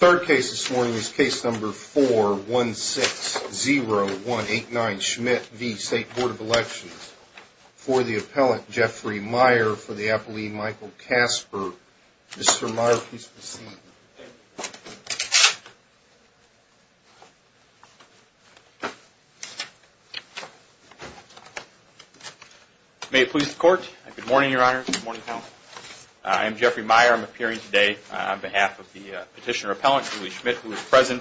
Third case this morning is case number 4-1-6-0-1-8-9-Schmidt v. State Board of Elections for the appellate Jeffrey Meyer for the appellee Michael Kasper. Mr. Meyer, please proceed. May it please the Court. Good morning, Your Honor. Good morning, panel. I am Jeffrey Meyer. I am appearing today on behalf of the petitioner appellant, Julie Schmidt, who is present.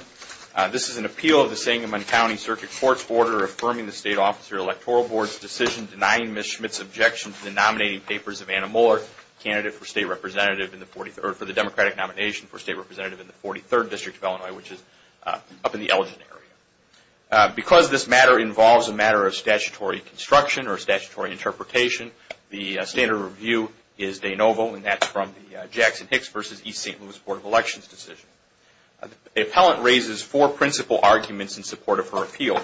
This is an appeal of the Sangamon County Circuit Court's order affirming the State Officer Electoral Board's decision denying Ms. Schmidt's objection to the nominating papers of Anna Mohler, candidate for the Democratic nomination for State Representative in the 43rd District of Illinois, which is up in the Elgin area. Because this matter involves a matter of statutory construction or statutory interpretation, the standard of review is de novo, and that's from the Jackson-Hicks v. East St. Louis Board of Elections decision. The appellant raises four principal arguments in support of her appeal.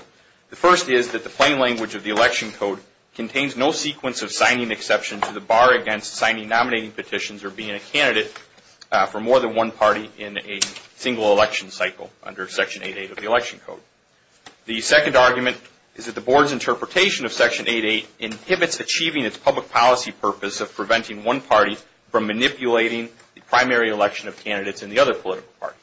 The first is that the plain language of the election code contains no sequence of signing exception to the bar against signing nominating petitions or being a candidate for more than one party in a single election cycle under Section 8.8 of the election code. The second argument is that the Board's interpretation of Section 8.8 inhibits achieving its public policy purpose of preventing one party from manipulating the primary election of candidates in the other political party.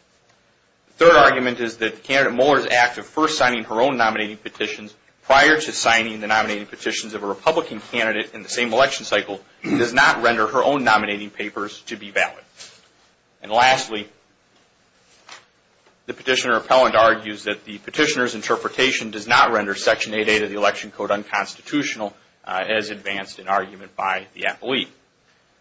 The third argument is that Candidate Mohler's act of first signing her own nominating petitions prior to signing the nominating petitions of a Republican candidate in the same election cycle does not render her own nominating papers to be valid. And lastly, the petitioner appellant argues that the petitioner's interpretation does not render Section 8.8 of the election code unconstitutional as advanced in argument by the appellee.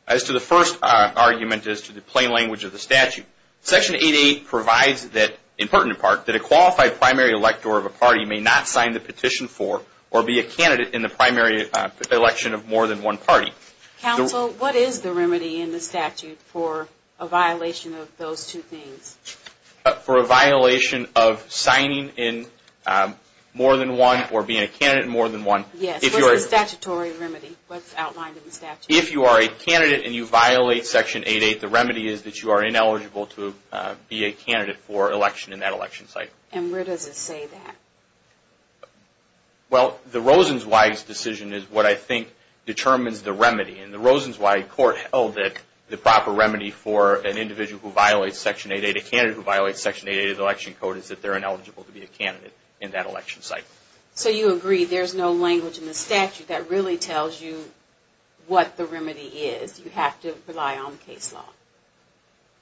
As to the first argument as to the plain language of the statute, Section 8.8 provides that, that a qualified primary elector of a party may not sign the petition for or be a candidate in the primary election of more than one party. Counsel, what is the remedy in the statute for a violation of those two things? For a violation of signing in more than one or being a candidate in more than one. Yes, what's the statutory remedy? What's outlined in the statute? If you are a candidate and you violate Section 8.8, the remedy is that you are ineligible to be a candidate for election in that election cycle. And where does it say that? Well, the Rosenzweig's decision is what I think determines the remedy. And the Rosenzweig court held that the proper remedy for an individual who violates Section 8.8, a candidate who violates Section 8.8 of the election code, is that they're ineligible to be a candidate in that election cycle. So you agree there's no language in the statute that really tells you what the remedy is. You have to rely on case law.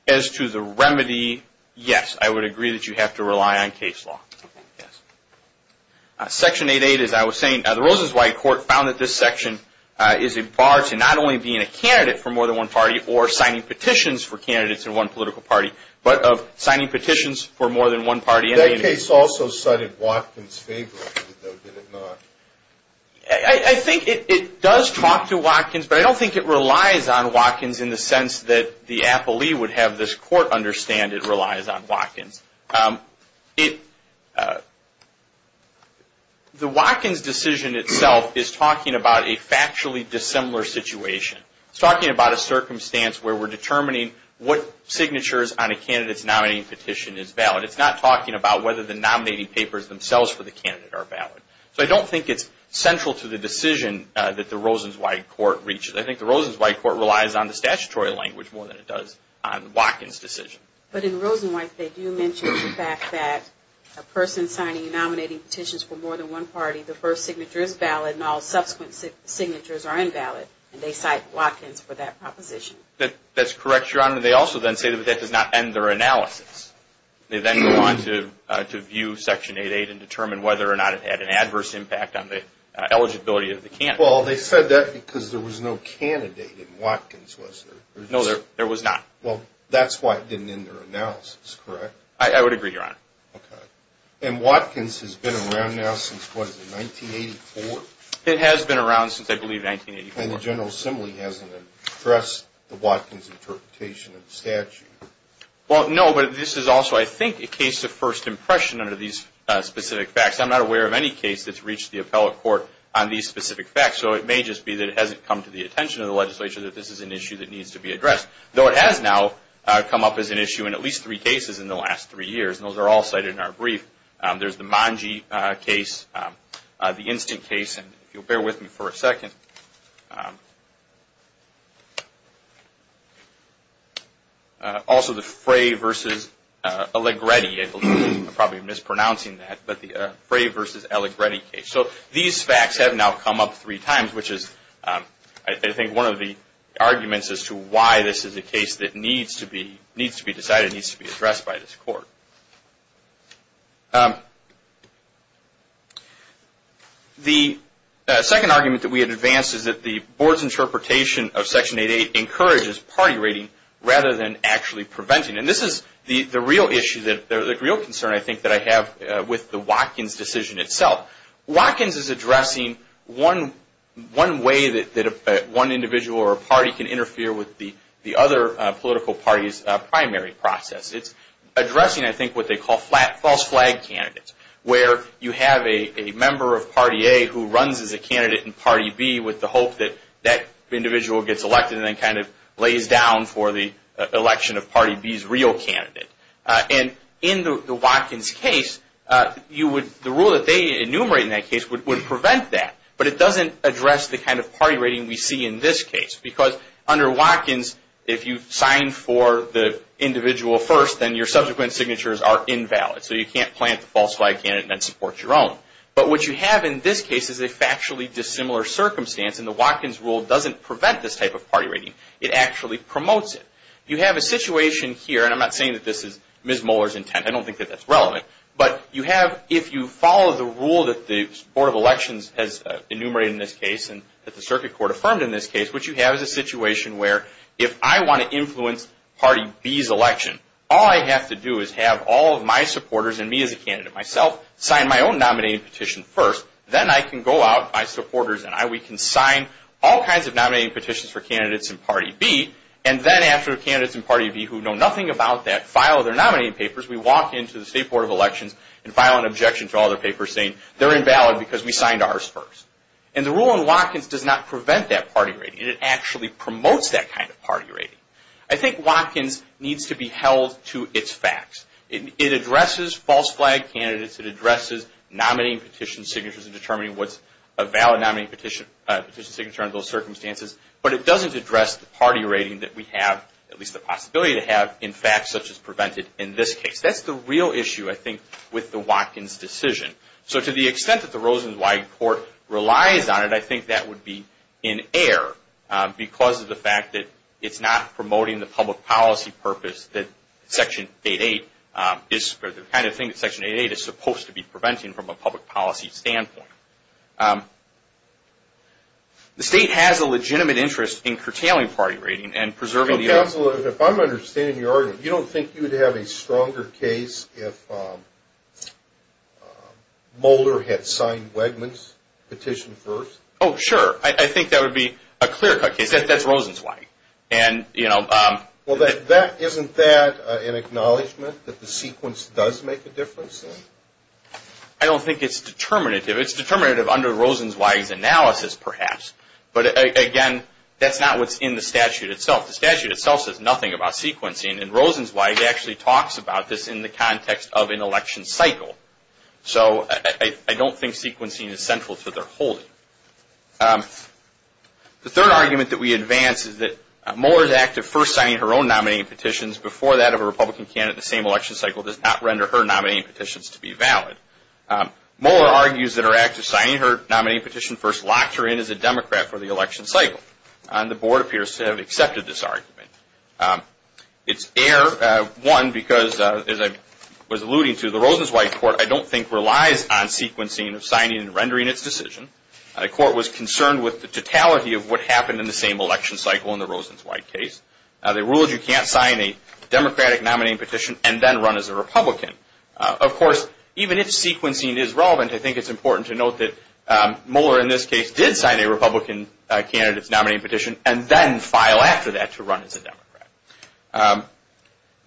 As to the remedy, yes, I would agree that you have to rely on case law. Section 8.8, as I was saying, the Rosenzweig court found that this section is a bar to not only being a candidate for more than one party or signing petitions for candidates in one political party, but of signing petitions for more than one party. That case also cited Watkins favorably, though, did it not? I think it does talk to Watkins. But I don't think it relies on Watkins in the sense that the appellee would have this court understand it relies on Watkins. The Watkins decision itself is talking about a factually dissimilar situation. It's talking about a circumstance where we're determining what signatures on a candidate's nominating petition is valid. But it's not talking about whether the nominating papers themselves for the candidate are valid. So I don't think it's central to the decision that the Rosenzweig court reaches. I think the Rosenzweig court relies on the statutory language more than it does on Watkins' decision. But in Rosenzweig, they do mention the fact that a person signing and nominating petitions for more than one party, the first signature is valid and all subsequent signatures are invalid. And they cite Watkins for that proposition. That's correct, Your Honor. And they also then say that that does not end their analysis. They then go on to view Section 8.8 and determine whether or not it had an adverse impact on the eligibility of the candidate. Well, they said that because there was no candidate in Watkins, was there? No, there was not. Well, that's why it didn't end their analysis, correct? I would agree, Your Honor. Okay. And Watkins has been around now since, what is it, 1984? It has been around since, I believe, 1984. And the General Assembly hasn't addressed the Watkins interpretation of the statute? Well, no, but this is also, I think, a case of first impression under these specific facts. I'm not aware of any case that's reached the appellate court on these specific facts. So it may just be that it hasn't come to the attention of the legislature that this is an issue that needs to be addressed, though it has now come up as an issue in at least three cases in the last three years. And those are all cited in our brief. There's the Mangi case, the Instant case, and if you'll bear with me for a second. Also the Frey v. Allegretti, I believe I'm probably mispronouncing that, but the Frey v. Allegretti case. So these facts have now come up three times, which is, I think, one of the arguments as to why this is a case that The second argument that we advance is that the board's interpretation of Section 8.8 encourages party rating rather than actually preventing. And this is the real issue, the real concern, I think, that I have with the Watkins decision itself. Watkins is addressing one way that one individual or party can interfere with the other political party's primary process. It's addressing, I think, what they call false flag candidates, where you have a member of Party A who runs as a candidate in Party B with the hope that that individual gets elected and then kind of lays down for the election of Party B's real candidate. And in the Watkins case, the rule that they enumerate in that case would prevent that. But it doesn't address the kind of party rating we see in this case. Because under Watkins, if you sign for the individual first, then your subsequent signatures are invalid. So you can't plant the false flag candidate and then support your own. But what you have in this case is a factually dissimilar circumstance. And the Watkins rule doesn't prevent this type of party rating. It actually promotes it. You have a situation here, and I'm not saying that this is Ms. Moeller's intent. I don't think that that's relevant. But you have, if you follow the rule that the Board of Elections has enumerated in this case and that the Circuit Court affirmed in this case, what you have is a situation where if I want to influence Party B's election, all I have to do is have all of my supporters and me as a candidate myself sign my own nominating petition first. Then I can go out, my supporters and I, we can sign all kinds of nominating petitions for candidates in Party B. And then after the candidates in Party B who know nothing about that file their nominating papers, we walk into the State Board of Elections and file an objection to all their papers saying they're invalid because we signed ours first. And the rule in Watkins does not prevent that party rating. It actually promotes that kind of party rating. I think Watkins needs to be held to its facts. It addresses false flag candidates. It addresses nominating petition signatures and determining what's a valid nominating petition signature under those circumstances. But it doesn't address the party rating that we have, at least the possibility to have, in facts such as prevented in this case. That's the real issue, I think, with the Watkins decision. So to the extent that the Rosenzweig Court relies on it, I think that would be in error because of the fact that it's not promoting the public policy purpose that Section 8.8 is, or the kind of thing that Section 8.8 is supposed to be preventing from a public policy standpoint. The State has a legitimate interest in curtailing party rating and preserving the order. Counselor, if I'm understanding your argument, you don't think you would have a stronger case if Mulder had signed Wegman's petition first? Oh, sure. I think that would be a clear-cut case. That's Rosenzweig. Well, isn't that an acknowledgment that the sequence does make a difference then? I don't think it's determinative. It's determinative under Rosenzweig's analysis, perhaps. But again, that's not what's in the statute itself. The statute itself says nothing about sequencing. And Rosenzweig actually talks about this in the context of an election cycle. So I don't think sequencing is central to their holding. The third argument that we advance is that Mulder's act of first signing her own nominating petitions before that of a Republican candidate in the same election cycle does not render her nominating petitions to be valid. Mulder argues that her act of signing her nominating petition first locked her in as a Democrat for the election cycle. And the board appears to have accepted this argument. It's error, one, because, as I was alluding to, the Rosenzweig court I don't think relies on sequencing of signing and rendering its decision. The court was concerned with the totality of what happened in the same election cycle in the Rosenzweig case. They ruled you can't sign a Democratic nominating petition and then run as a Republican. Of course, even if sequencing is relevant, I think it's important to note that Mulder in this case did sign a Republican candidate's nominating petition and then file after that to run as a Democrat.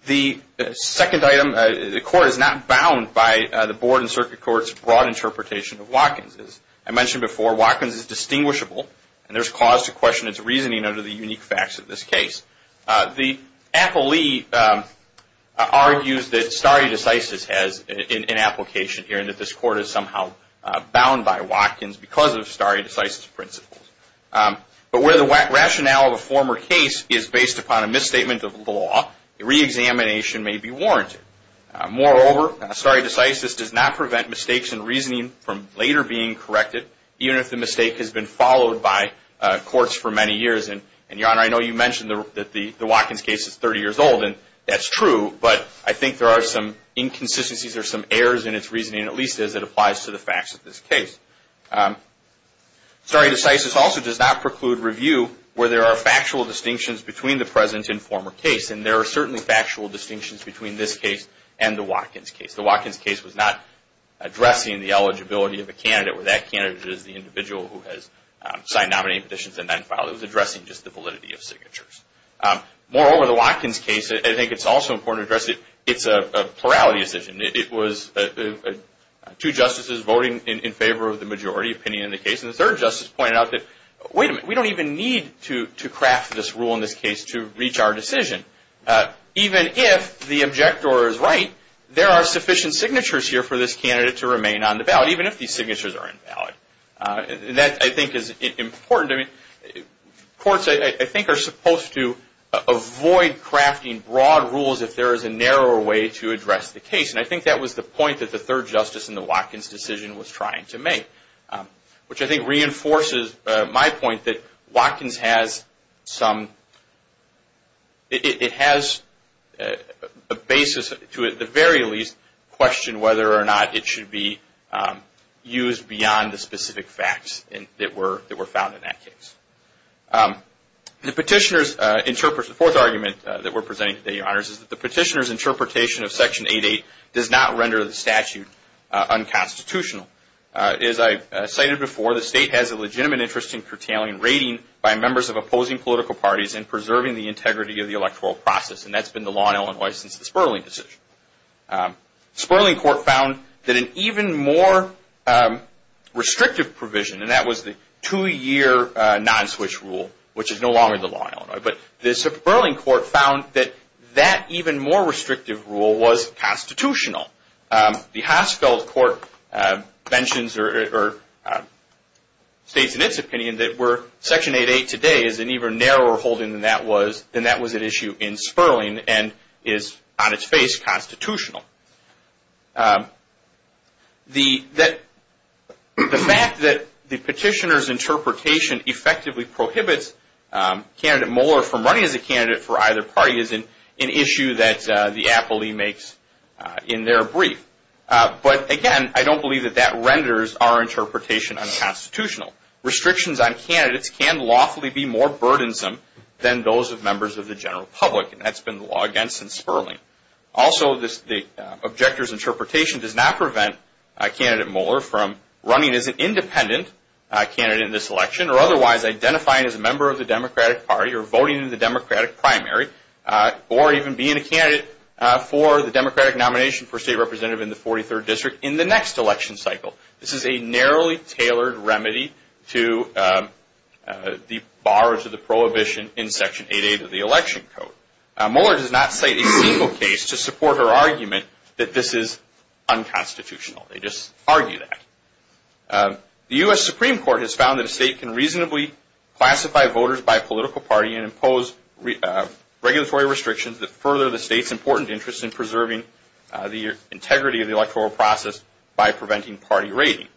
The second item, the court is not bound by the board and circuit court's broad interpretation of Watkins. As I mentioned before, Watkins is distinguishable and there's cause to question its reasoning under the unique facts of this case. The appellee argues that stare decisis has an application here and that this court is somehow bound by Watkins because of stare decisis principles. But where the rationale of a former case is based upon a misstatement of law, reexamination may be warranted. Moreover, stare decisis does not prevent mistakes in reasoning from later being corrected, even if the mistake has been followed by courts for many years. And, Your Honor, I know you mentioned that the Watkins case is 30 years old and that's true, but I think there are some inconsistencies or some errors in its reasoning, at least as it applies to the facts of this case. Stare decisis also does not preclude review where there are factual distinctions between the present and former case. And there are certainly factual distinctions between this case and the Watkins case. The Watkins case was not addressing the eligibility of a candidate where that candidate is the individual who has signed nominating conditions and then filed. It was addressing just the validity of signatures. Moreover, the Watkins case, I think it's also important to address, it's a plurality decision. It was two justices voting in favor of the majority opinion in the case, and the third justice pointed out that, wait a minute, we don't even need to craft this rule in this case to reach our decision. Even if the objector is right, there are sufficient signatures here for this candidate to remain on the ballot, even if these signatures are invalid. Courts, I think, are supposed to avoid crafting broad rules if there is a narrower way to address the case. And I think that was the point that the third justice in the Watkins decision was trying to make, which I think reinforces my point that Watkins has some, it has a basis to, at the very least, question whether or not it should be used beyond the specific facts that were found in that case. The petitioner's interpretation, the fourth argument that we're presenting today, Your Honors, is that the petitioner's interpretation of Section 8.8 does not render the statute unconstitutional. As I cited before, the state has a legitimate interest in curtailing rating by members of opposing political parties and preserving the integrity of the electoral process, and that's been the law in Illinois since the Sperling decision. Sperling court found that an even more restrictive provision, and that was the two-year non-switch rule, which is no longer the law in Illinois, but the Sperling court found that that even more restrictive rule was constitutional. The Haskell Court states in its opinion that where Section 8.8 today is an even narrower holding than that was, it issues in Sperling and is, on its face, constitutional. The fact that the petitioner's interpretation effectively prohibits Candidate Moeller from running as a candidate for either party is an issue that the Appley makes in their brief. But again, I don't believe that that renders our interpretation unconstitutional. Restrictions on candidates can lawfully be more burdensome than those of members of the general public, and that's been the law against since Sperling. Also, the objector's interpretation does not prevent Candidate Moeller from running as an independent candidate in this election or otherwise identifying as a member of the Democratic Party or voting in the Democratic primary or even being a candidate for the Democratic nomination for State Representative in the 43rd District in the next election cycle. This is a narrowly tailored remedy to the bars of the prohibition in Section 8.8 of the Election Code. Moeller does not cite a single case to support her argument that this is unconstitutional. They just argue that. The U.S. Supreme Court has found that a state can reasonably classify voters by political party and impose regulatory restrictions that further the state's important interest in preserving the integrity of the electoral process by preventing party rating.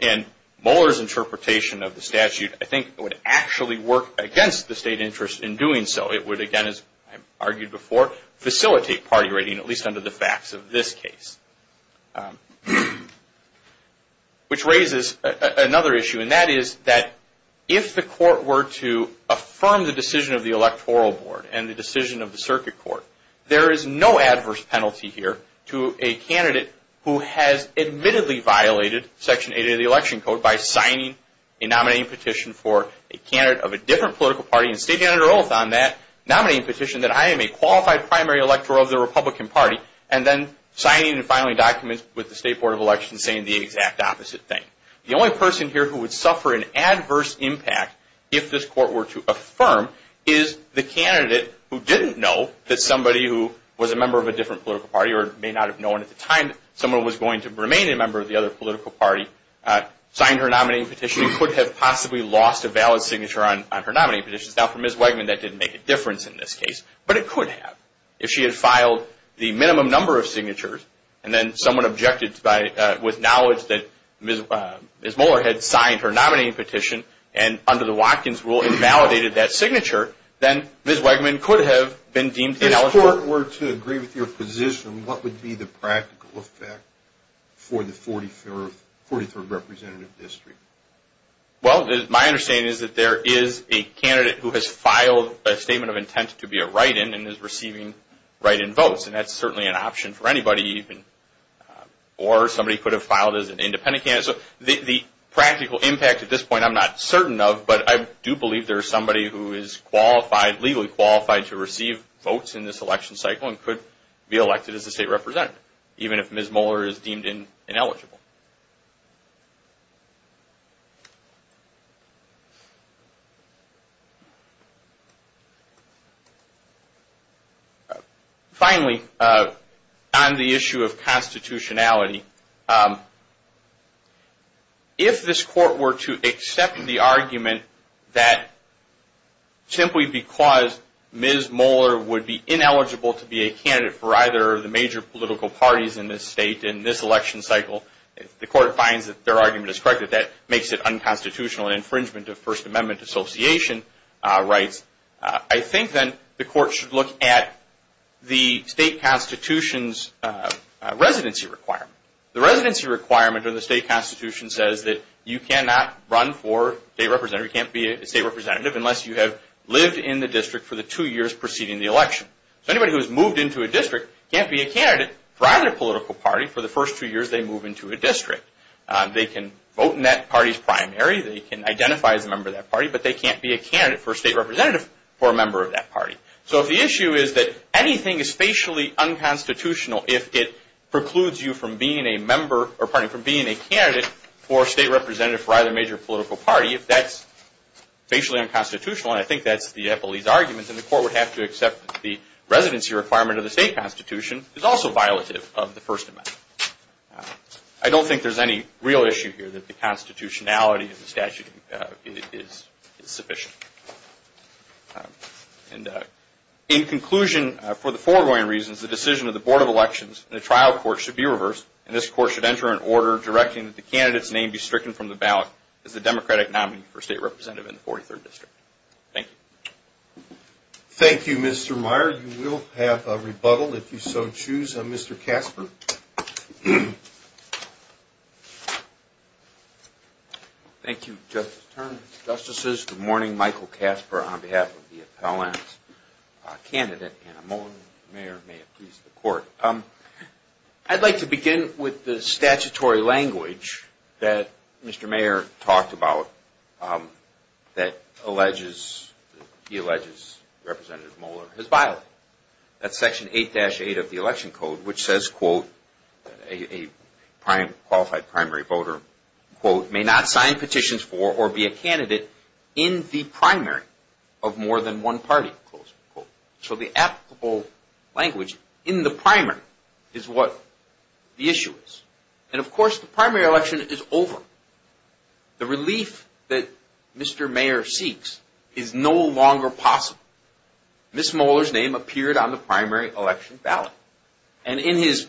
And Moeller's interpretation of the statute, I think, would actually work against the state interest in doing so. It would, again, as I argued before, facilitate party rating, at least under the facts of this case. Which raises another issue, and that is that if the Court were to affirm the decision of the Electoral Board and the decision of the Circuit Court, there is no adverse penalty here to a candidate who has admittedly violated Section 8 of the Election Code by signing a nominating petition for a candidate of a different political party and stating under oath on that nominating petition that I am a qualified primary electoral of the Republican Party and then signing and filing documents with the State Board of Elections saying the exact opposite thing. The only person here who would suffer an adverse impact if this Court were to affirm is the candidate who didn't know that somebody who was a member of a different political party or may not have known at the time someone was going to remain a member of the other political party signed her nominating petition and could have possibly lost a valid signature on her nominating petition. Now for Ms. Wegman that didn't make a difference in this case, but it could have. If she had filed the minimum number of signatures and then someone objected with knowledge that Ms. Moeller had signed her nominating petition and under the Watkins rule invalidated that signature, then Ms. Wegman could have been deemed ineligible. If this Court were to agree with your position, what would be the practical effect for the 43rd Representative District? Well, my understanding is that there is a candidate who has filed a statement of intent to be a write-in and is receiving write-in votes. And that's certainly an option for anybody even. The practical impact at this point I'm not certain of, but I do believe there is somebody who is legally qualified to receive votes in this election cycle and could be elected as a State Representative even if Ms. Moeller is deemed ineligible. Finally, on the issue of constitutionality, if this Court were to accept the argument that simply because Ms. Moeller would be ineligible to be a candidate for either of the major political parties in this state in this election cycle, if the Court finds that their argument is correct, that that makes it unconstitutional and infringement of First Amendment Association rights, I think then the Court should look at the State Constitution's residency requirement. The residency requirement of the State Constitution says that you cannot run for State Representative unless you have lived in the district for the two years preceding the election. So anybody who has moved into a district can't be a candidate for either political party for the first two years they move into a district. They can vote in that party's primary, they can identify as a member of that party, but they can't be a candidate for State Representative for a member of that party. So if the issue is that anything is spatially unconstitutional if it precludes you from being a candidate for State Representative for either major political party, if that's spatially unconstitutional, and I think that's the Eppley's argument, then the Court would have to accept that the residency requirement of the State Constitution is also violative of the First Amendment. I don't think there's any real issue here that the constitutionality of the statute is sufficient. In conclusion, for the foregoing reasons, the decision of the Board of Elections and the trial court should be reversed, and this court should enter an order directing that the candidate's name be stricken from the ballot as the Democratic nominee for State Representative in the 43rd District. Thank you. Thank you, Mr. Meyer. You will have a rebuttal if you so choose. Mr. Casper. Thank you, Justices. Good morning. Michael Casper on behalf of the Appellant Candidate. I'd like to begin with the statutory language that Mr. Meyer talked about that he alleges Representative Moeller has violated. That's Section 8-8 of the Election Code, which says, quote, a qualified primary voter, quote, may not sign petitions for or be a candidate in the primary of more than one party, close quote. So the applicable language in the primary is what the issue is. And of course, the primary election is over. The relief that Mr. Meyer seeks is no longer possible. Ms. Moeller's name appeared on the primary election ballot. And in his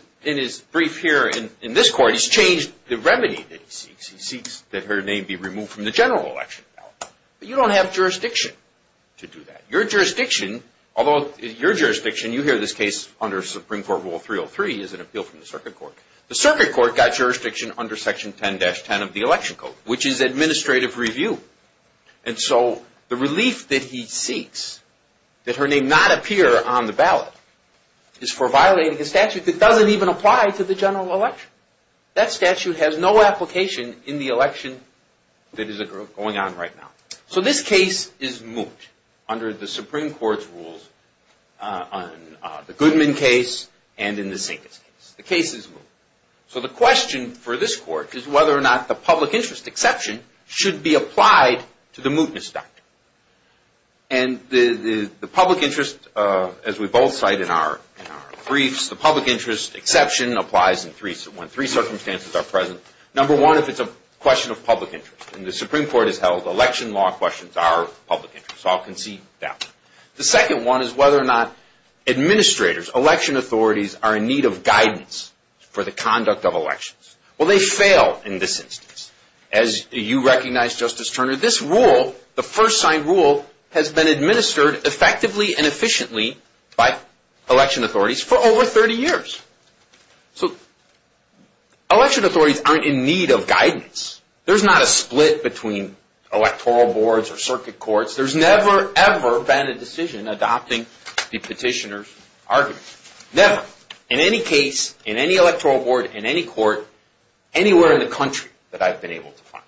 brief here in this court, he's changed the remedy that he seeks. He seeks that her name be removed from the general election ballot. But you don't have jurisdiction to do that. Your jurisdiction, although your jurisdiction, you hear this case under Supreme Court Rule 303, is an appeal from the Circuit Court. The Circuit Court got jurisdiction under Section 10-10 of the Election Code, which is administrative review. And so the relief that he seeks, that her name not appear on the ballot, is for violating a statute that doesn't even apply to the general election. That statute has no application in the election that is going on right now. So this case is moot under the Supreme Court's rules on the Goodman case and in the Sinkes case. The case is moot. So the question for this court is whether or not the public interest exception should be applied to the mootness doctrine. And the public interest, as we both cite in our briefs, the public interest exception applies when three circumstances are present. Number one, if it's a question of public interest, and the Supreme Court has held election law questions are public interest. So I'll concede that one. The second one is whether or not administrators, election authorities, are in need of guidance for the conduct of elections. Well, they fail in this instance. As you recognize, Justice Turner, this rule, the first signed rule, has been administered effectively and efficiently by election authorities for over 30 years. So election authorities aren't in need of guidance. There's not a split between electoral boards or circuit courts. There's never, ever been a decision adopting the petitioner's argument. Never, in any case, in any electoral board, in any court, anywhere in the country that I've been able to find.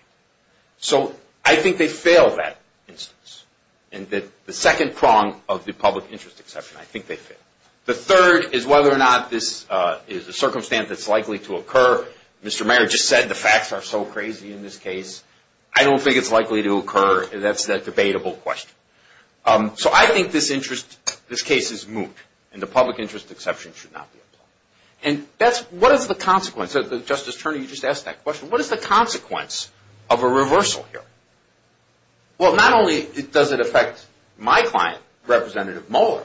So I think they fail that instance. And the second prong of the public interest exception, I think they fail. The third is whether or not this is a circumstance that's likely to occur. Mr. Mayer just said the facts are so crazy in this case. I don't think it's likely to occur. That's a debatable question. So I think this case is moot, and the public interest exception should not be applied. And what is the consequence? Justice Turner, you just asked that question. What is the consequence of a reversal here? Well, not only does it affect my client, Representative Mueller,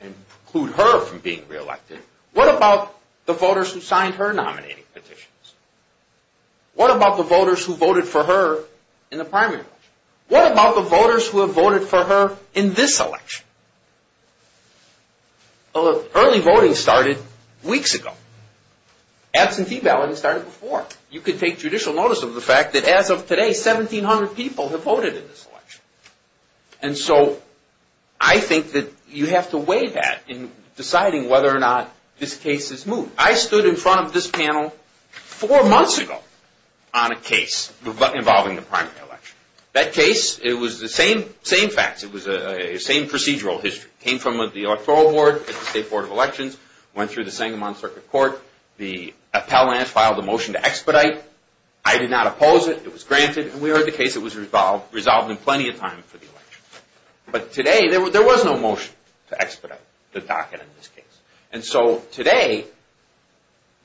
and preclude her from being reelected, what about the voters who signed her nominating petitions? What about the voters who voted for her in the primary election? What about the voters who have voted for her in this election? Early voting started weeks ago. Absentee balloting started before. You could take judicial notice of the fact that as of today, 1,700 people have voted in this election. And so I think that you have to weigh that in deciding whether or not this case is moot. I stood in front of this panel four months ago on a case involving the primary election. That case, it was the same facts. It was the same procedural history. It came from the Electoral Board, the State Board of Elections, went through the Sangamon Circuit Court. The appellants filed a motion to expedite. I did not oppose it. It was granted. And we heard the case. It was resolved in plenty of time for the election. But today, there was no motion to expedite the docket in this case. And so today,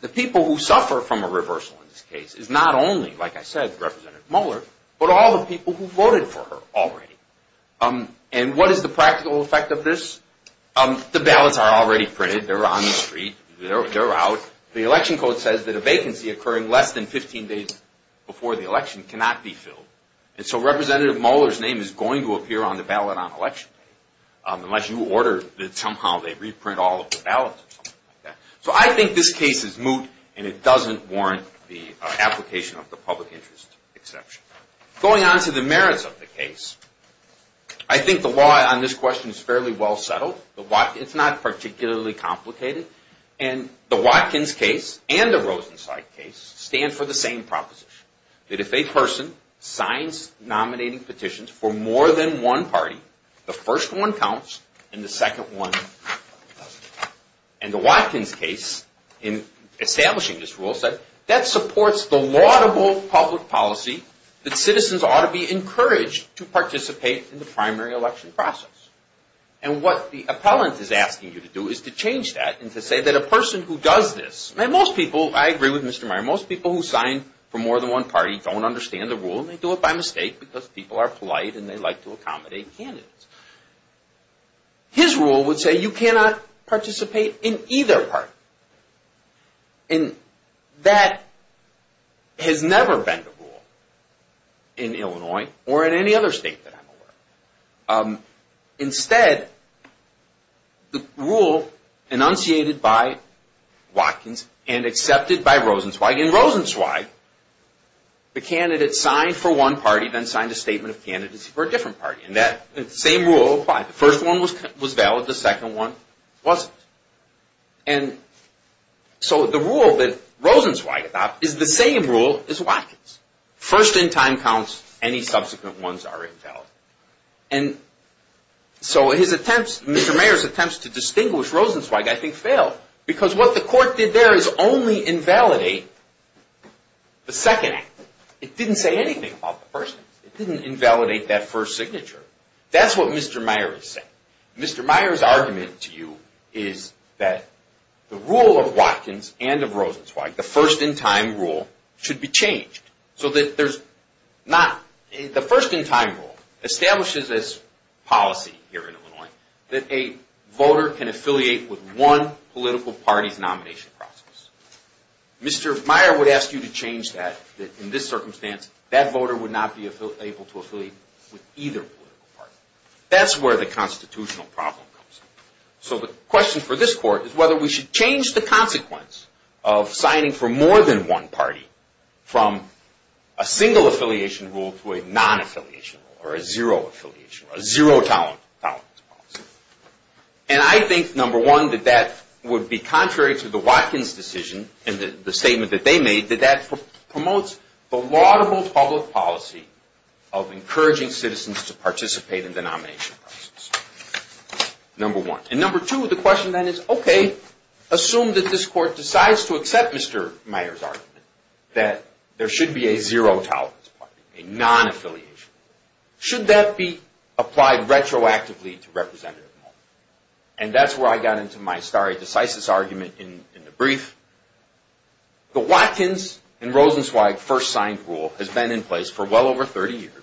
the people who suffer from a reversal in this case is not only, like I said, Representative Mueller, but all the people who voted for her already. And what is the practical effect of this? The ballots are already printed. They're on the street. They're out. The election code says that a vacancy occurring less than 15 days before the election cannot be filled. And so Representative Mueller's name is going to appear on the ballot on election day, unless you order that somehow they reprint all of the ballots or something like that. So I think this case is moot, and it doesn't warrant the application of the public interest exception. Going on to the merits of the case, I think the law on this question is fairly well settled. It's not particularly complicated. And the Watkins case and the Rosenzeit case stand for the same proposition, that if a person signs nominating petitions for more than one party, the first one counts and the second one doesn't. And the Watkins case, in establishing this rule, said that supports the laudable public policy that citizens ought to be encouraged to participate in the primary election process. And what the appellant is asking you to do is to change that and to say that a person who does this, and most people, I agree with Mr. Meyer, most people who sign for more than one party don't understand the rule, and they do it by mistake because people are polite and they like to accommodate candidates. His rule would say you cannot participate in either party. And that has never been the rule in Illinois or in any other state that I'm aware of. Instead, the rule enunciated by Watkins and accepted by Rosenzweig, and Rosenzweig, the candidate signed for one party then signed a statement of candidacy for a different party, and that same rule applied. The first one was valid, the second one wasn't. And so the rule that Rosenzweig adopted is the same rule as Watkins. First in time counts, any subsequent ones are invalid. And so his attempts, Mr. Meyer's attempts to distinguish Rosenzweig I think failed because what the court did there is only invalidate the second act. It didn't say anything about the first act. It didn't invalidate that first signature. That's what Mr. Meyer is saying. Mr. Meyer's argument to you is that the rule of Watkins and of Rosenzweig, the first in time rule, should be changed so that there's not... The first in time rule establishes this policy here in Illinois that a voter can affiliate with one political party's nomination process. Mr. Meyer would ask you to change that, that in this circumstance that voter would not be able to affiliate with either political party. That's where the constitutional problem comes in. So the question for this court is whether we should change the consequence of signing for more than one party from a single affiliation rule to a non-affiliation rule or a zero affiliation rule, a zero tolerance policy. And I think, number one, that that would be contrary to the Watkins decision and the statement that they made, that that promotes the laudable public policy of encouraging And number two, the question then is, okay, assume that this court decides to accept Mr. Meyer's argument that there should be a zero tolerance policy, a non-affiliation. Should that be applied retroactively to Representative Moeller? And that's where I got into my stare decisis argument in the brief. The Watkins and Rosenzweig first signed rule has been in place for well over 30 years.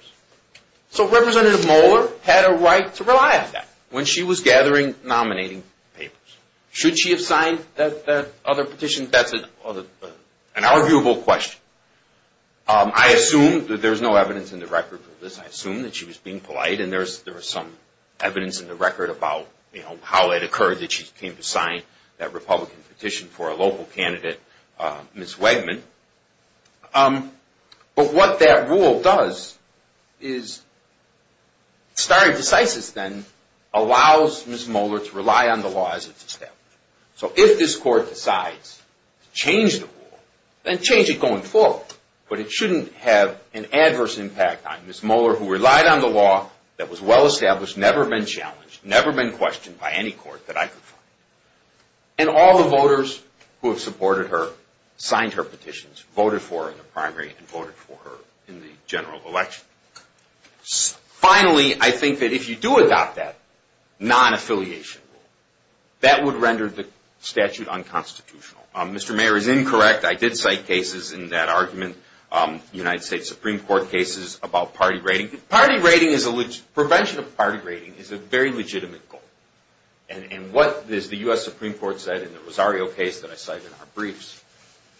So Representative Moeller had a right to rely on that when she was gathering nominating papers. Should she have signed that other petition? That's an arguable question. I assume that there's no evidence in the record for this. I assume that she was being polite and there was some evidence in the record about how it occurred that she came to sign that Republican petition for a local candidate, Ms. Wegman. But what that rule does is stare decisis then allows Ms. Moeller to rely on the law as it's established. So if this court decides to change the rule, then change it going forward. But it shouldn't have an adverse impact on Ms. Moeller who relied on the law that was well established, never been challenged, never been challenged, never signed her petitions, voted for her in the primary and voted for her in the general election. Finally, I think that if you do adopt that non-affiliation rule, that would render the statute unconstitutional. Mr. Mayor is incorrect. I did cite cases in that argument, United States Supreme Court cases about party rating. Prevention of party rating is a very legitimate goal. And what the U.S. Supreme Court said in the Rosario case that I cited in our briefs,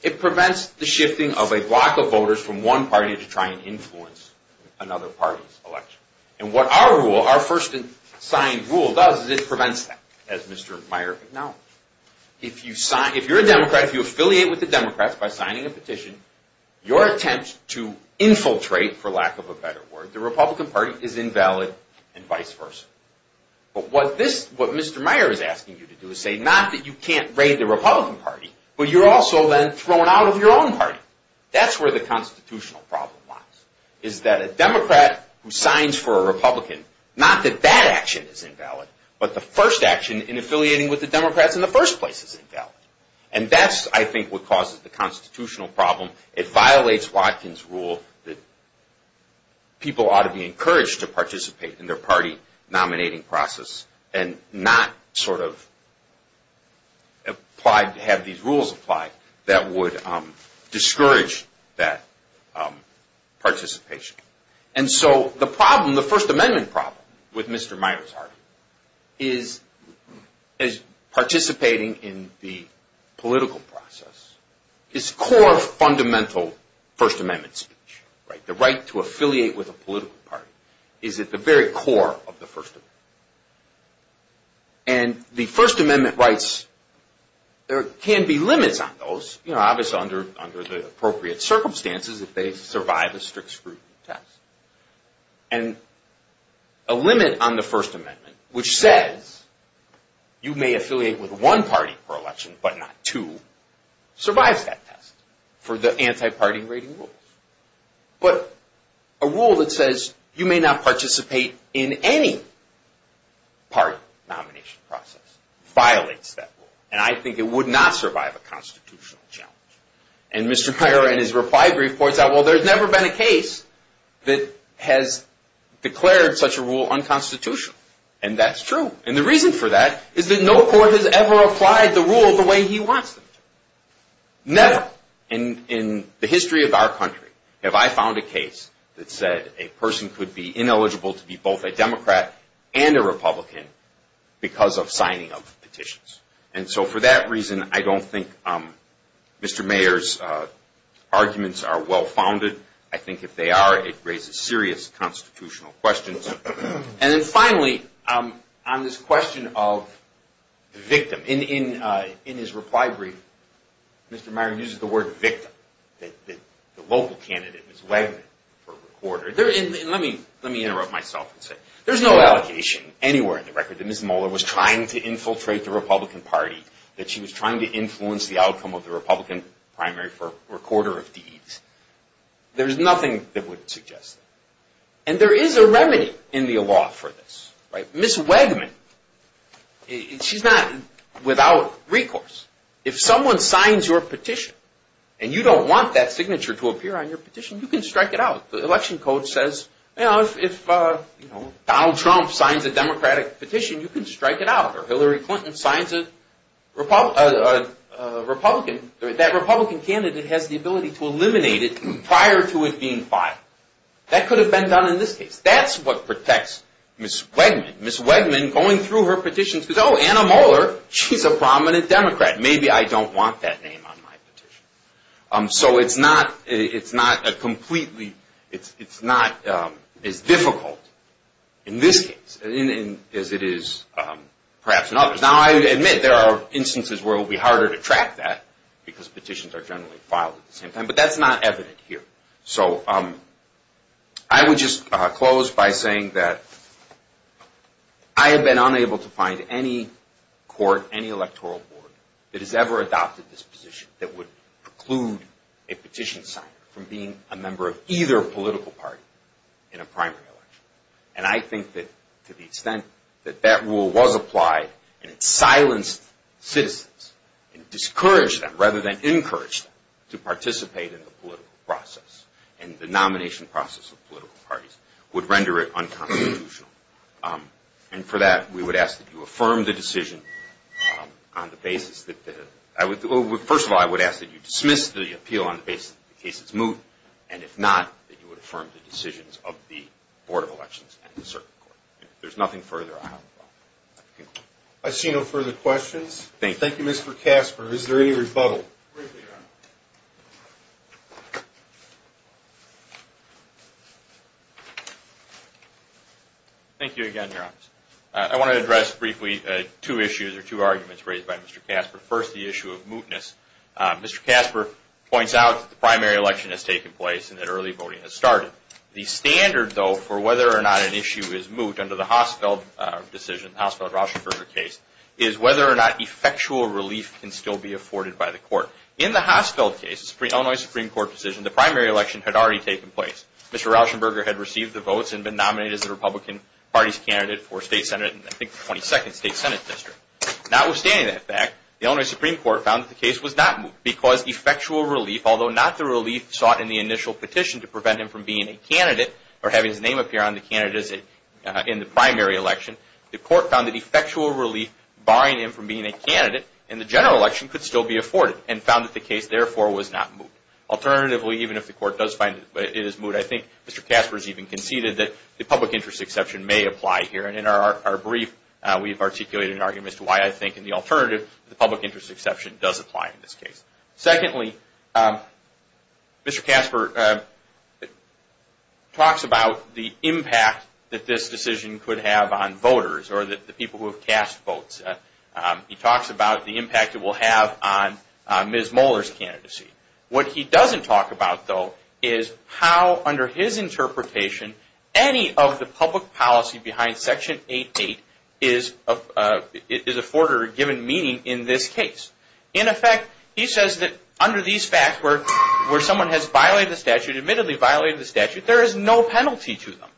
it prevents the shifting of a block of voters from one party to try and influence another party's election. And what our rule, our first signed rule does is it prevents that, as Mr. Mayor acknowledged. If you're a Democrat, if you affiliate with the Democrats by signing a petition, your attempt to infiltrate, for lack of a better word, the Republican Party is invalid and vice versa. But what Mr. Mayor is asking you to do is say not that you can't raid the Republican Party, but you're also then thrown out of your own party. That's where the constitutional problem lies. Is that a Democrat who signs for a Republican, not that that action is invalid, but the first action in affiliating with the Democrats in the first place is invalid. And that's, I think, what causes the constitutional problem. It violates Watkins' rule that people ought to be encouraged to participate in their party nominating process and not sort of have these rules apply that would discourage that participation. And so the problem, the First Amendment problem with Mr. Mayor's argument is that participating in the political process is core fundamental First Amendment speech. The right to affiliate with a political party is at the very core of the First Amendment. And the First Amendment rights, there can be limits on those, obviously under the appropriate circumstances if they survive a strict scrutiny test. And a limit on the First Amendment, which says you may affiliate with one party per election, but not two, survives that test for the anti-party rating rules. But a rule that says you may not participate in any party nomination process violates that rule. And I think it would not survive a constitutional challenge. And Mr. Mayor in his reply brief points out, well, there's never been a case that has declared such a rule unconstitutional. And that's true. And the reason for that is that no court has ever applied the rule the way he wants them to. Never in the history of our country have I found a case that said a person could be ineligible to be both a Democrat and a Republican because of the Constitution. I think Mr. Mayor's arguments are well-founded. I think if they are, it raises serious constitutional questions. And then finally, on this question of victim, in his reply brief, Mr. Mayor uses the word victim. The local candidate, Ms. Wagner, for recorder. Let me interrupt myself and say, there's no allegation anywhere in the record that Ms. Mueller was trying to infiltrate the Republican Party, that she was trying to influence the outcome of the Republican primary for recorder of deeds. There's nothing that would suggest that. And there is a remedy in the law for this. Ms. Wagner, she's not without recourse. If someone signs your petition and you don't want that signature to appear on your petition, you can strike it out. The election code says, you know, if Donald Trump signs a Democratic petition, you can strike it out. Or Hillary Clinton signs a Republican, that Republican candidate has the ability to eliminate it prior to it being filed. That could have been done in this case. That's what protects Ms. Wegman. Ms. Wegman going through her petition says, oh, Anna Mueller, she's a prominent Democrat. Maybe I don't want that name on my petition. So it's not a completely, it's not as difficult in this case as it is perhaps in others. Now, I admit there are instances where it will be harder to track that because petitions are generally filed at the same time. But that's not evident here. So I would just close by saying that I have been unable to find any court, any electoral board that has ever adopted this position that would preclude a petition signer from being a member of either political party in a primary election. And I think that to the extent that that rule was applied and it silenced citizens and discouraged them rather than encouraged them to participate in the political process and the nomination process of political parties would render it on the basis that, first of all, I would ask that you dismiss the appeal on the basis that the case is moved. And if not, that you would affirm the decisions of the Board of Elections and the Circuit Court. If there's nothing further, I'll conclude. I see no further questions. Thank you, Mr. Kasper. Is there any rebuttal? Briefly, Your Honor. Thank you again, Your Honor. I want to address briefly two issues or two arguments raised by Mr. Kasper. First, the issue of mootness. Mr. Kasper points out that the primary election has taken place and that early voting has started. The standard, though, for whether or not an issue is moot under the Hausfeld decision, the Hausfeld-Rauschenberger case, is whether or not effectual relief can still be afforded by the court. In the Hausfeld case, the Illinois Supreme Court decision, the primary election had already taken place. Mr. Rauschenberger had received the votes and been nominated as the Republican Party's candidate for State Senate in, I think, the 22nd State Senate District. Notwithstanding that fact, the Illinois Supreme Court found that the case was not moot because effectual relief, although not the relief sought in the initial petition to prevent him from being a candidate or having his effectual relief barring him from being a candidate in the general election, could still be afforded and found that the case, therefore, was not moot. Alternatively, even if the court does find that it is moot, I think Mr. Kasper has even conceded that the public interest exception may apply here. And in our brief, we've articulated an argument as to why I think in the alternative the public interest exception does apply in this case. Secondly, Mr. Kasper talks about the impact that this decision could have on voters or the people who have cast votes. He talks about the impact it will have on Ms. Moeller's candidacy. What he doesn't talk about, though, is how, under his interpretation, any of the public policy behind Section 8.8 is afforded or given meaning in this case. In effect, he says that under these facts where someone has violated the statute, admittedly violated the statute, there is no penalty to them.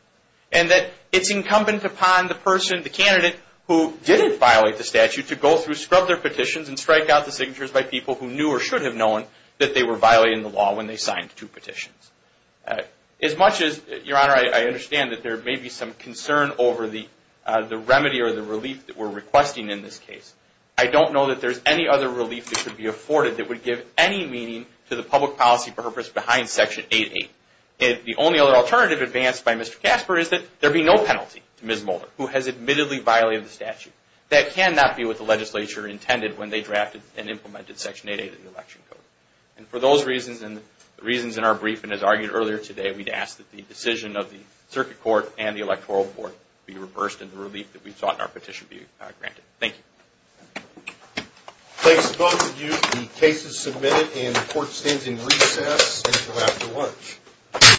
And that it's incumbent upon the person, the candidate, who didn't violate the statute to go through, scrub their petitions, and strike out the signatures by people who knew or should have known that they were violating the law when they signed two petitions. As much as, Your Honor, I understand that there may be some concern over the relief that could be afforded that would give any meaning to the public policy purpose behind Section 8.8. The only other alternative advanced by Mr. Kasper is that there be no penalty to Ms. Moeller who has admittedly violated the statute. That cannot be what the legislature intended when they drafted and implemented Section 8.8 of the Election Code. And for those reasons and the reasons in our briefing as argued earlier today, we'd ask that the decision of the Circuit Court and the Electoral Board be reversed and the relief that we sought in our petition be granted. Thank you. Thank both of you. The case is submitted and the Court stands in recess until after lunch.